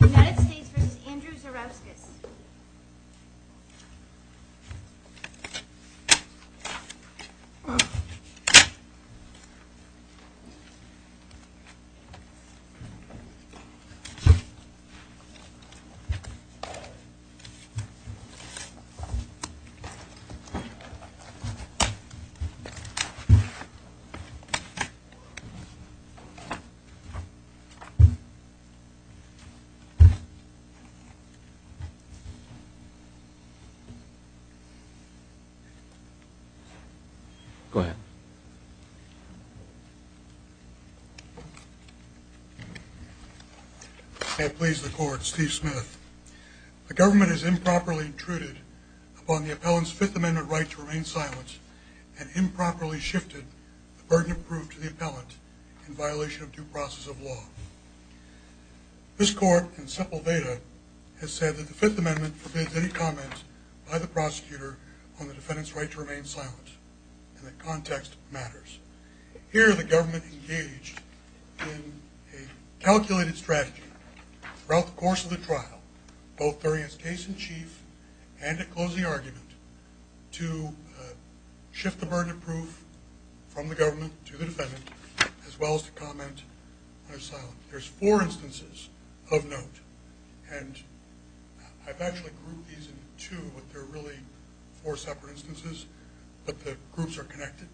United States v. Andrew Zarauskas Go ahead. May it please the court, Steve Smith. The government has improperly intruded upon the appellant's Fifth Amendment right to remain silent and improperly shifted the burden of proof to the appellant in violation of due process of law. This court, in simple data, has said that the Fifth Amendment forbids any comment by the prosecutor on the defendant's right to remain silent and that context matters. Here the government engaged in a calculated strategy throughout the course of the trial, both during its case in chief and at closing argument, to shift the burden of proof from the government to the defendant as well as to comment on his silence. There's four instances of note, and I've actually grouped these in two, but they're really four separate instances, but the groups are connected.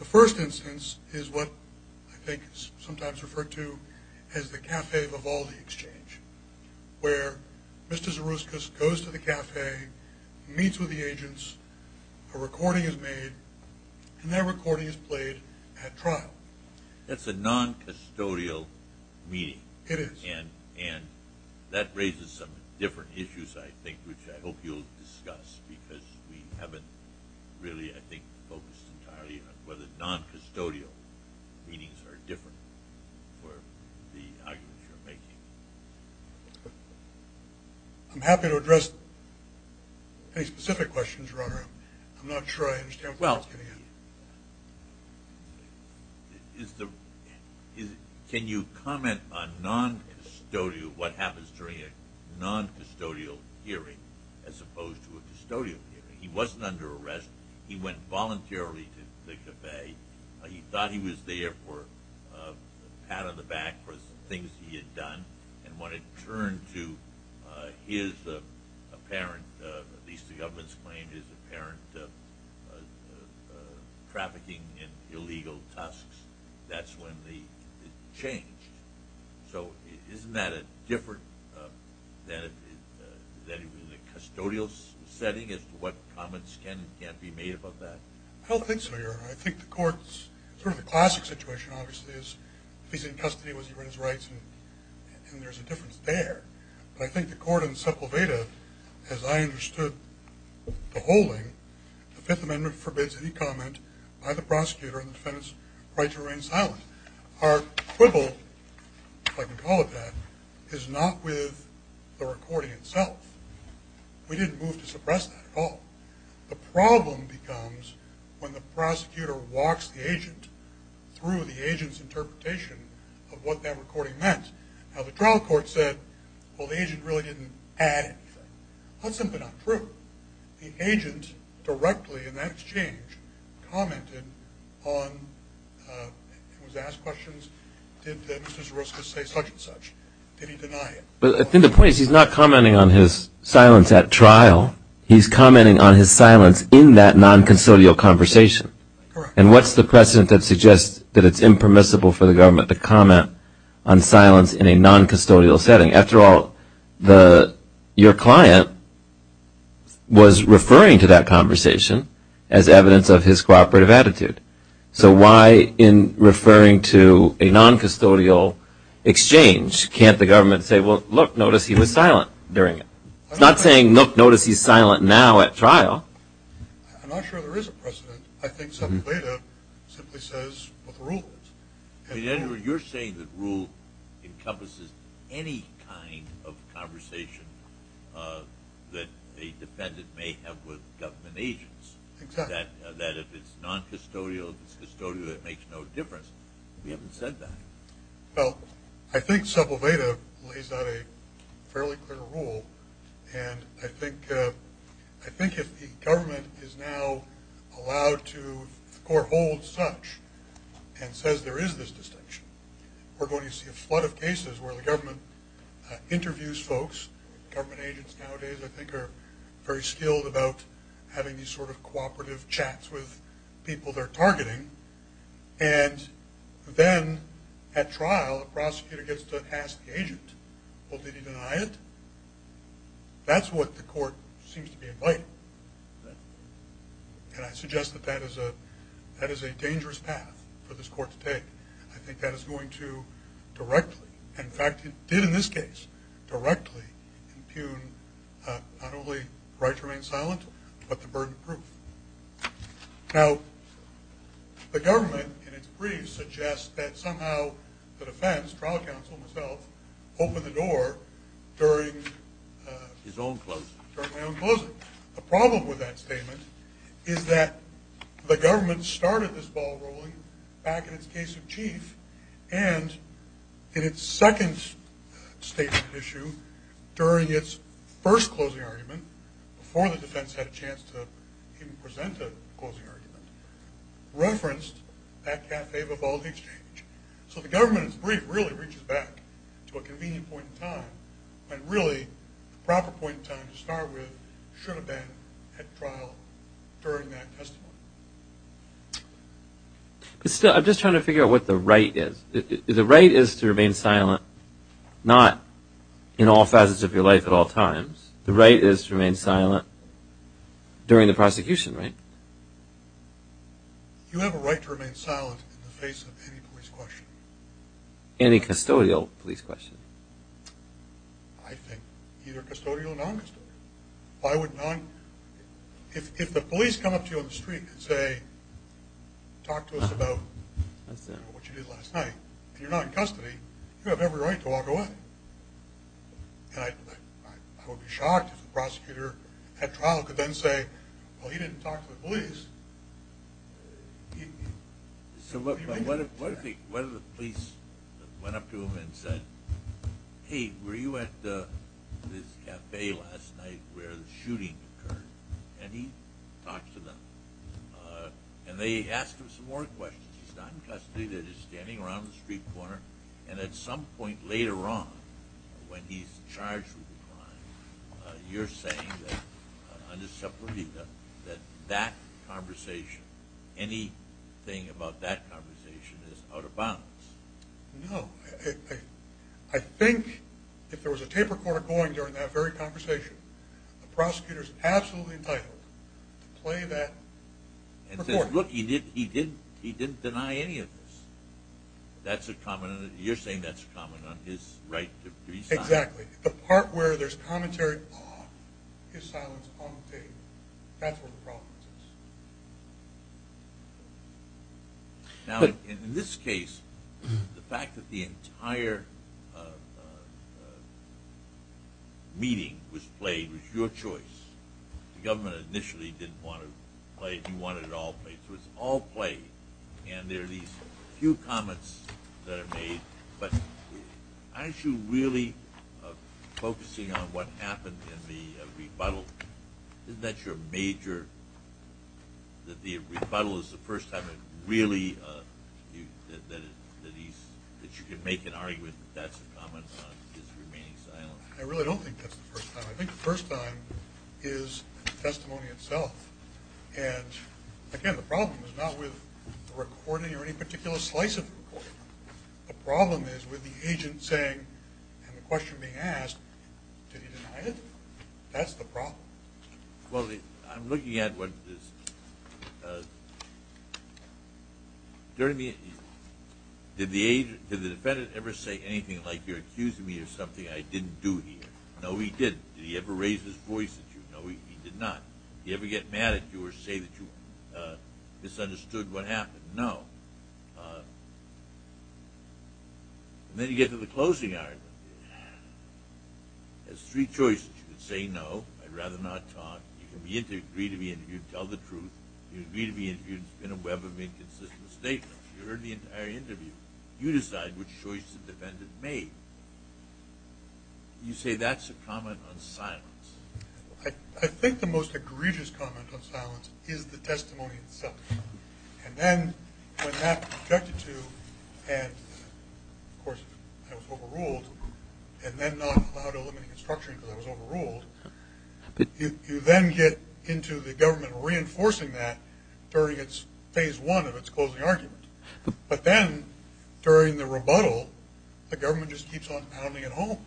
The first instance is what I think is sometimes referred to as the Café Vivaldi exchange, where Mr. Zarauskas goes to the café, meets with the agents, a recording is made, and that recording is played at trial. That's a non-custodial meeting. It is. And that raises some different issues, I think, which I hope you'll discuss, because we haven't really, I think, focused entirely on whether non-custodial meetings are different for the arguments you're making. I'm happy to address any specific questions, Your Honor. I'm not sure I understand what's getting at me. Well, can you comment on what happens during a non-custodial hearing as opposed to a custodial hearing? He wasn't under arrest. He went voluntarily to the café. He thought he was there for a pat on the back for the things he had done, and when it turned to his apparent, at least the government's claim, his apparent trafficking in illegal tusks, that's when it changed. So isn't that different than in a custodial setting as to what comments can and can't be made about that? I don't think so, Your Honor. I think the court's sort of the classic situation, obviously, is if he's in custody, what's he's rights, and there's a difference there. But I think the court in Sepulveda, as I understood the holding, the Fifth Amendment forbids any comment by the prosecutor on the defendant's right to remain silent. Our quibble, if I can call it that, is not with the recording itself. We didn't move to suppress that at all. The problem becomes when the prosecutor walks the agent through the agent's interpretation of what that recording meant. Now, the trial court said, well, the agent really didn't add anything. That's simply not true. The agent directly in that exchange commented on and was asked questions, did Mr. Zaroska say such and such? Did he deny it? I think the point is he's not commenting on his silence at trial. He's commenting on his silence in that noncustodial conversation. And what's the precedent that suggests that it's impermissible for the government to comment on silence in a noncustodial setting? After all, your client was referring to that conversation as evidence of his cooperative attitude. So why in referring to a noncustodial exchange can't the government say, well, look, notice he was silent during it? It's not saying, look, notice he's silent now at trial. I'm not sure there is a precedent. I think subovative simply says what the rule is. You're saying that rule encompasses any kind of conversation that a defendant may have with government agents. Exactly. That if it's noncustodial, it's custodial, it makes no difference. We haven't said that. Well, I think subovative lays out a fairly clear rule. And I think if the government is now allowed to hold such and says there is this distinction, we're going to see a flood of cases where the government interviews folks. Government agents nowadays, I think, are very skilled about having these sort of cooperative chats with people they're targeting. And then at trial, a prosecutor gets to ask the agent, well, did he deny it? That's what the court seems to be inviting. And I suggest that that is a dangerous path for this court to take. I think that is going to directly, in fact, it did in this case, directly impugn not only right to remain silent, but the burden of proof. Now, the government, in its brief, suggests that somehow the defense, trial counsel himself, opened the door during his own closing, during my own closing. The problem with that statement is that the government started this ball rolling back in its case of chief, and in its second statement issue, during its first closing argument, even before the defense had a chance to even present a closing argument, referenced that cafe-bobo exchange. So the government, in its brief, really reaches back to a convenient point in time when really the proper point in time to start with should have been at trial during that testimony. But still, I'm just trying to figure out what the right is. The right is to remain silent, not in all facets of your life at all times. The right is to remain silent during the prosecution, right? You have a right to remain silent in the face of any police question. Any custodial police question. I think either custodial or non-custodial. If the police come up to you on the street and say, talk to us about what you did last night, and you're not in custody, you have every right to walk away. And I would be shocked if the prosecutor at trial could then say, well, he didn't talk to the police. So what if the police went up to him and said, hey, were you at this cafe last night where the shooting occurred? And he talked to them. And they asked him some more questions. He's not in custody. He's standing around the street corner. And at some point later on when he's charged with a crime, you're saying that under Sepulveda that that conversation, anything about that conversation is out of bounds. No. I think if there was a tape recorder going during that very conversation, the prosecutor is absolutely entitled to play that recording. And says, look, he didn't deny any of this. You're saying that's a comment on his right to be silent? Exactly. The part where there's commentary off, his silence on the tape, that's where the problem is. Now, in this case, the fact that the entire meeting was played was your choice. The government initially didn't want to play it. You wanted it all played. So it's all played. And there are these few comments that are made. But aren't you really focusing on what happened in the rebuttal? Isn't that your major – that the rebuttal is the first time it really – that you can make an argument that that's a comment on his remaining silent? I really don't think that's the first time. I think the first time is the testimony itself. And, again, the problem is not with the recording or any particular slice of the recording. The problem is with the agent saying and the question being asked, did he deny it? That's the problem. Well, I'm looking at what this – did the defendant ever say anything like, you're accusing me of something I didn't do here? No, he didn't. Did he ever raise his voice at you? No, he did not. Did he ever get mad at you or say that you misunderstood what happened? No. And then you get to the closing argument. There's three choices. You can say no, I'd rather not talk. You can agree to be interviewed and tell the truth. You agree to be interviewed and spin a web of inconsistent statements. You heard the entire interview. You decide which choice the defendant made. You say that's a comment on silence. I think the most egregious comment on silence is the testimony itself. And then when that's objected to and, of course, I was overruled and then not allowed to eliminate construction because I was overruled, you then get into the government reinforcing that during its phase one of its closing argument. But then during the rebuttal, the government just keeps on pounding it home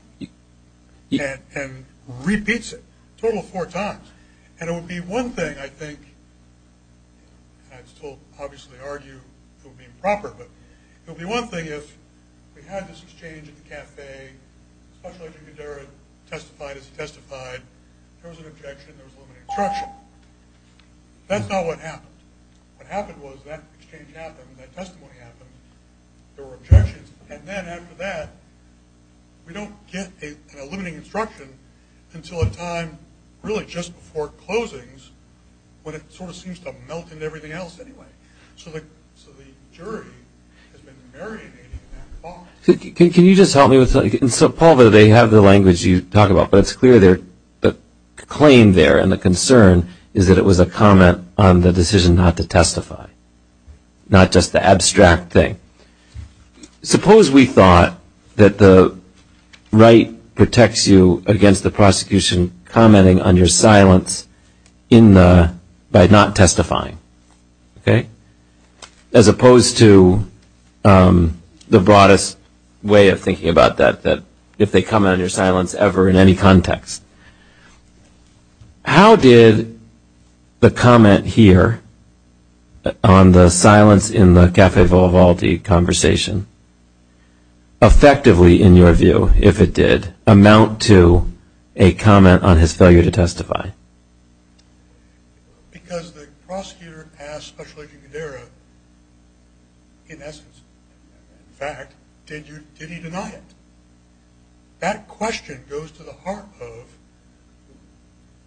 and repeats it a total of four times. And it would be one thing, I think, and I'd still obviously argue it would be improper, but it would be one thing if we had this exchange at the cafe, the special engineer testified as he testified. There was an objection. There was a limit on construction. That's not what happened. What happened was that exchange happened. That testimony happened. There were objections. And then after that, we don't get an eliminating instruction until a time really just before closings when it sort of seems to melt into everything else anyway. So the jury has been marionading that thought. Can you just help me with that? So, Paul, they have the language you talk about, but it's clear the claim there and the concern is that it was a comment on the decision not to testify, not just the abstract thing. Suppose we thought that the right protects you against the prosecution commenting on your silence by not testifying. As opposed to the broadest way of thinking about that, if they comment on your silence ever in any context. How did the comment here on the silence in the Cafe Volvaldi conversation, effectively, in your view, if it did, amount to a comment on his failure to testify? Because the prosecutor asked Special Agent Guderra, in essence, in fact, did he deny it? That question goes to the heart of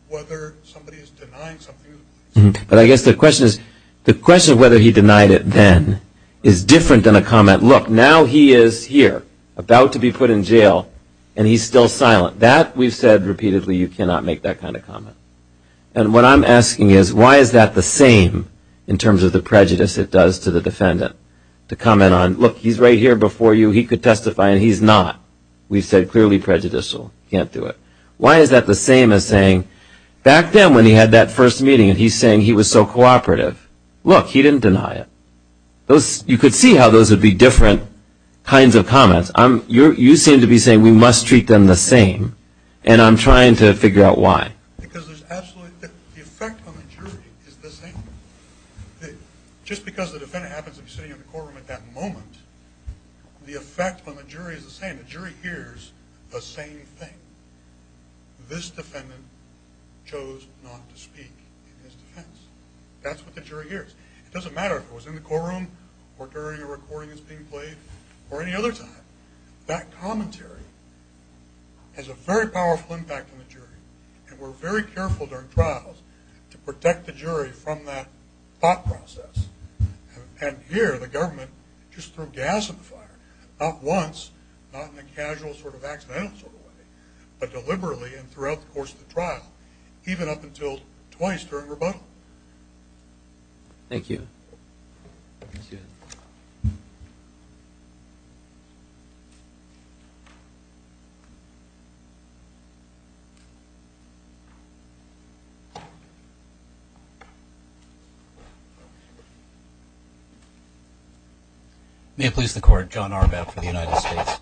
whether somebody is denying something. But I guess the question is, the question of whether he denied it then is different than a comment, look, now he is here, about to be put in jail, and he's still silent. That, we've said repeatedly, you cannot make that kind of comment. And what I'm asking is, why is that the same in terms of the prejudice it does to the defendant? To comment on, look, he's right here before you, he could testify and he's not, we've said clearly prejudicial, can't do it. Why is that the same as saying, back then when he had that first meeting and he's saying he was so cooperative, look, he didn't deny it. You could see how those would be different kinds of comments. You seem to be saying we must treat them the same, and I'm trying to figure out why. Because there's absolutely, the effect on the jury is the same. Just because the defendant happens to be sitting in the courtroom at that moment, the effect on the jury is the same. The jury hears the same thing. This defendant chose not to speak in his defense. That's what the jury hears. It doesn't matter if it was in the courtroom, or during a recording that's being played, or any other time. That commentary has a very powerful impact on the jury. And we're very careful during trials to protect the jury from that thought process. And here, the government just threw gas at the fire. Not once, not in a casual sort of accidental sort of way, but deliberately and throughout the course of the trial, even up until twice during rebuttal. Thank you. May it please the Court, John Arbat for the United States.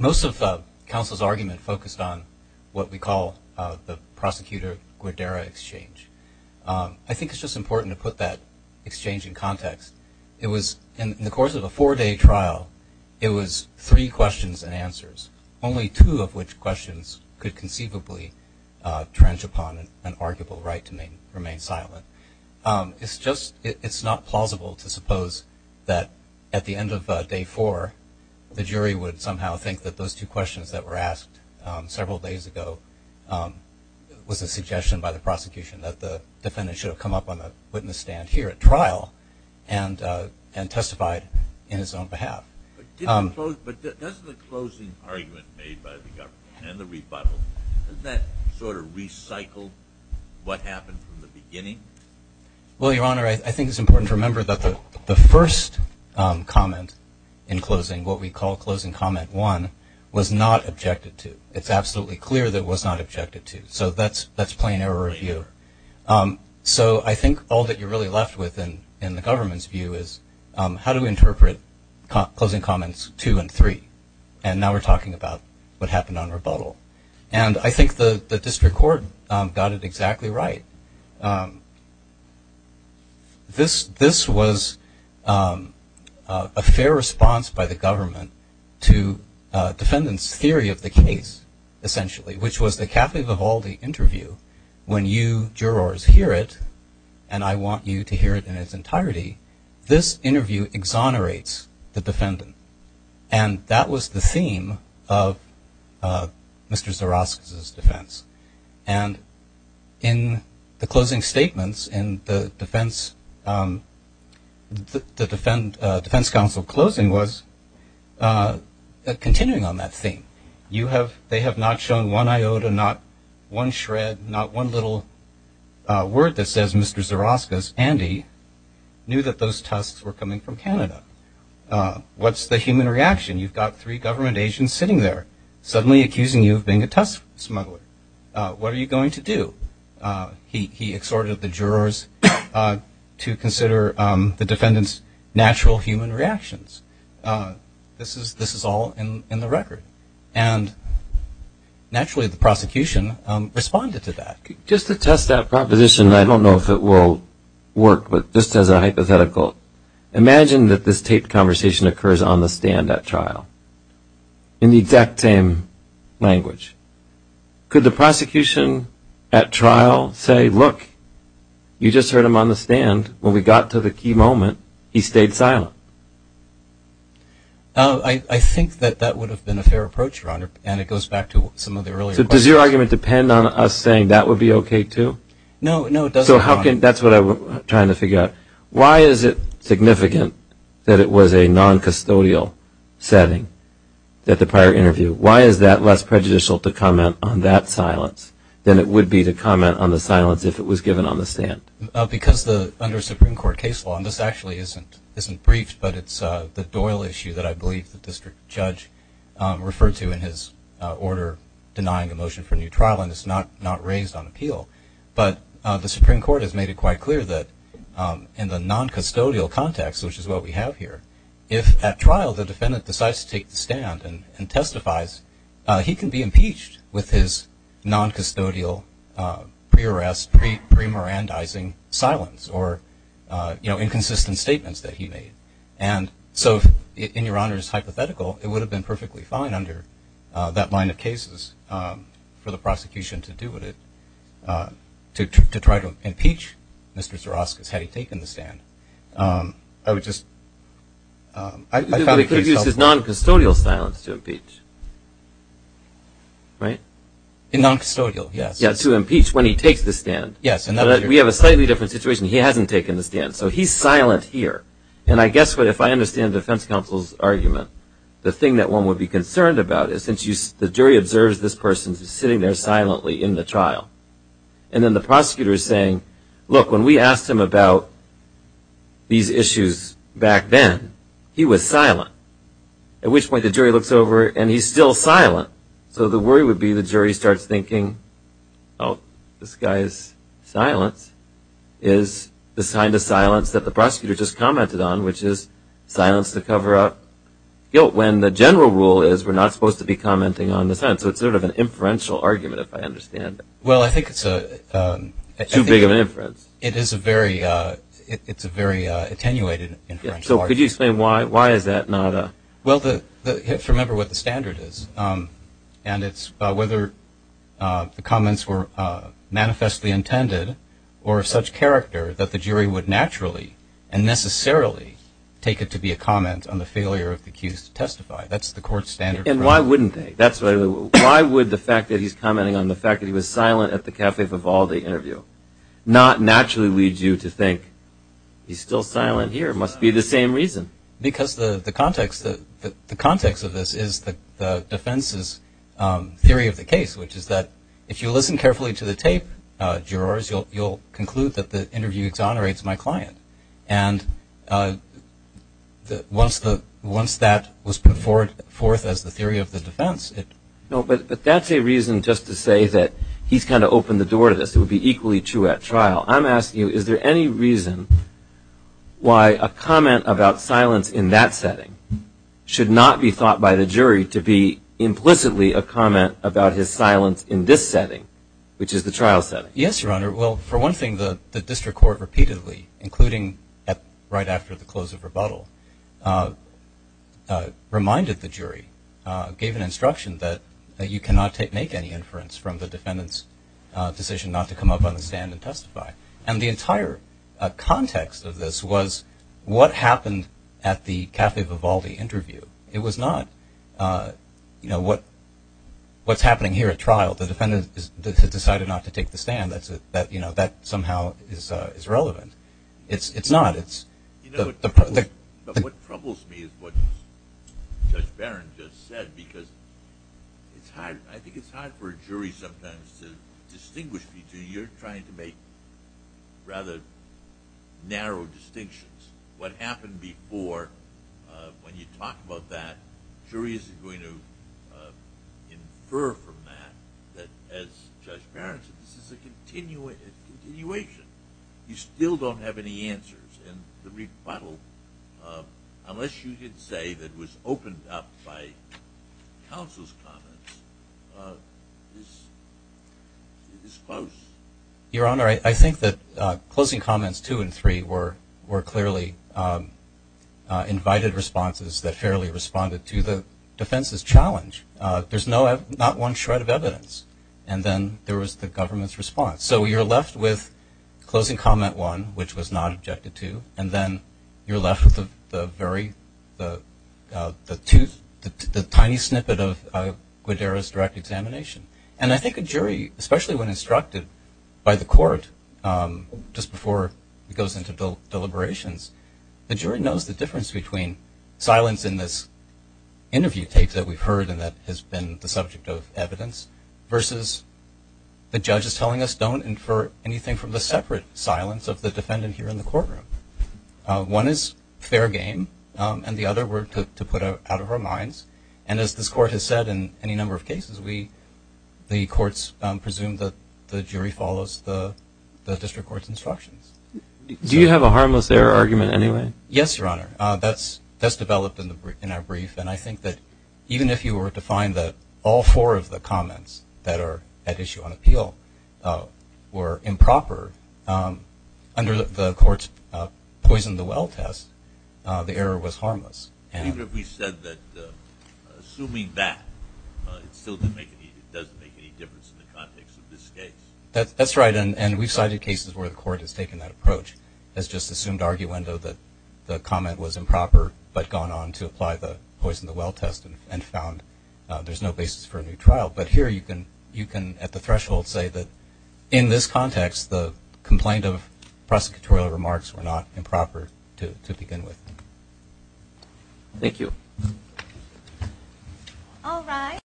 Most of counsel's argument focused on what we call the prosecutor-guerrera exchange. I think it's just important to put that exchange in context. It was, in the course of a four-day trial, it was three questions and answers, only two of which questions could conceivably trench upon an arguable right to remain silent. It's just not plausible to suppose that at the end of day four, the jury would somehow think that those two questions that were asked several days ago was a suggestion by the prosecution that the defendant should have come up on the witness stand here at trial and testified in his own behalf. But doesn't the closing argument made by the government and the rebuttal, doesn't that sort of recycle what happened from the beginning? Well, Your Honor, I think it's important to remember that the first comment in closing, what we call closing comment one, was not objected to. It's absolutely clear that it was not objected to. So that's plain error of view. So I think all that you're really left with in the government's view is, how do we interpret closing comments two and three? And now we're talking about what happened on rebuttal. And I think the district court got it exactly right. This was a fair response by the government to defendant's theory of the case, essentially, which was the Kathy Vivaldi interview. When you jurors hear it, and I want you to hear it in its entirety, this interview exonerates the defendant. And that was the theme of Mr. Zoroskis' defense. And in the closing statements, the defense counsel closing was continuing on that theme. They have not shown one iota, not one shred, not one little word that says Mr. Zoroskis, Andy, knew that those tusks were coming from Canada. What's the human reaction? You've got three government agents sitting there suddenly accusing you of being a tusk smuggler. What are you going to do? He exhorted the jurors to consider the defendant's natural human reactions. This is all in the record. And naturally, the prosecution responded to that. Just to test that proposition, I don't know if it will work, but just as a hypothetical, imagine that this taped conversation occurs on the stand at trial in the exact same language. Could the prosecution at trial say, look, you just heard him on the stand. When we got to the key moment, he stayed silent? I think that that would have been a fair approach, Your Honor, and it goes back to some of the earlier questions. So does your argument depend on us saying that would be okay, too? No, no, it doesn't, Your Honor. So that's what I'm trying to figure out. Why is it significant that it was a non-custodial setting at the prior interview? Why is that less prejudicial to comment on that silence than it would be to comment on the silence if it was given on the stand? Because under Supreme Court case law, and this actually isn't briefed, but it's the Doyle issue that I believe the district judge referred to in his order denying a motion for a new trial, and it's not raised on appeal. But the Supreme Court has made it quite clear that in the non-custodial context, which is what we have here, if at trial the defendant decides to take the stand and testifies, he can be impeached with his non-custodial, pre-arrest, pre-merandizing silence or inconsistent statements that he made. And so if, in Your Honor's hypothetical, it would have been perfectly fine under that line of cases for the prosecution to do with it, to try to impeach Mr. Zoroskis had he taken the stand. I would just, I found the case helpful. He could have used his non-custodial silence to impeach, right? In non-custodial, yes. Yeah, to impeach when he takes the stand. Yes. But we have a slightly different situation. He hasn't taken the stand. So he's silent here. And I guess if I understand the defense counsel's argument, the thing that one would be concerned about is since the jury observes this person sitting there silently in the trial, and then the prosecutor is saying, look, when we asked him about these issues back then, he was silent. At which point the jury looks over, and he's still silent. So the worry would be the jury starts thinking, oh, this guy's silence is the kind of silence that the prosecutor just commented on, which is silence to cover up guilt, when the general rule is we're not supposed to be commenting on the silence. So it's sort of an inferential argument, if I understand it. Well, I think it's a – Too big of an inference. It is a very – it's a very attenuated inferential argument. So could you explain why? Why is that not a – Well, if you remember what the standard is, and it's whether the comments were manifestly intended or of such character that the jury would naturally and necessarily take it to be a comment on the failure of the accused to testify. That's the court standard. And why wouldn't they? That's what I would – why would the fact that he's commenting on the fact that he was silent at the Cafe Vivaldi interview not naturally lead you to think he's still silent here? It must be the same reason. Because the context of this is the defense's theory of the case, which is that if you listen carefully to the tape, jurors, you'll conclude that the interview exonerates my client. And once that was put forth as the theory of the defense, it – No, but that's a reason just to say that he's kind of opened the door to this. It would be equally true at trial. I'm asking you, is there any reason why a comment about silence in that setting should not be thought by the jury to be implicitly a comment about his silence in this setting, which is the trial setting? Yes, Your Honor. Well, for one thing, the district court repeatedly, including right after the close of rebuttal, reminded the jury, gave an instruction that you cannot make any inference from the defendant's decision not to come up on the stand and testify. And the entire context of this was what happened at the Cafe Vivaldi interview. It was not what's happening here at trial. The defendant has decided not to take the stand. That somehow is relevant. It's not. You know, what troubles me is what Judge Barron just said, because I think it's hard for a jury sometimes to distinguish between – you're trying to make rather narrow distinctions. What happened before, when you talk about that, jury isn't going to infer from that that, as Judge Barron said, this is a continuation. You still don't have any answers. And the rebuttal, unless you did say that it was opened up by counsel's comments, is close. Your Honor, I think that closing comments two and three were clearly invited responses that fairly responded to the defense's challenge. There's not one shred of evidence. And then there was the government's response. So you're left with closing comment one, which was not objected to, and then you're left with the very – the tooth, the tiny snippet of Guadero's direct examination. And I think a jury, especially when instructed by the court just before it goes into deliberations, the jury knows the difference between silence in this interview tape that we've heard and that has been the subject of evidence versus the judge's telling us, don't infer anything from the separate silence of the defendant here in the courtroom. One is fair game, and the other we're to put out of our minds. And as this Court has said in any number of cases, the courts presume that the jury follows the district court's instructions. Do you have a harmless error argument anyway? Yes, Your Honor. That's developed in our brief. And I think that even if you were to find that all four of the comments that are at issue on appeal were improper, under the court's poison the well test, the error was harmless. Even if we said that assuming that, it still doesn't make any difference in the context of this case. That's right. And we've cited cases where the court has taken that approach, has just assumed arguendo that the comment was improper, but gone on to apply the poison the well test and found there's no basis for a new trial. But here you can, at the threshold, say that in this context the complaint of prosecutorial remarks were not improper to begin with. Thank you. All right.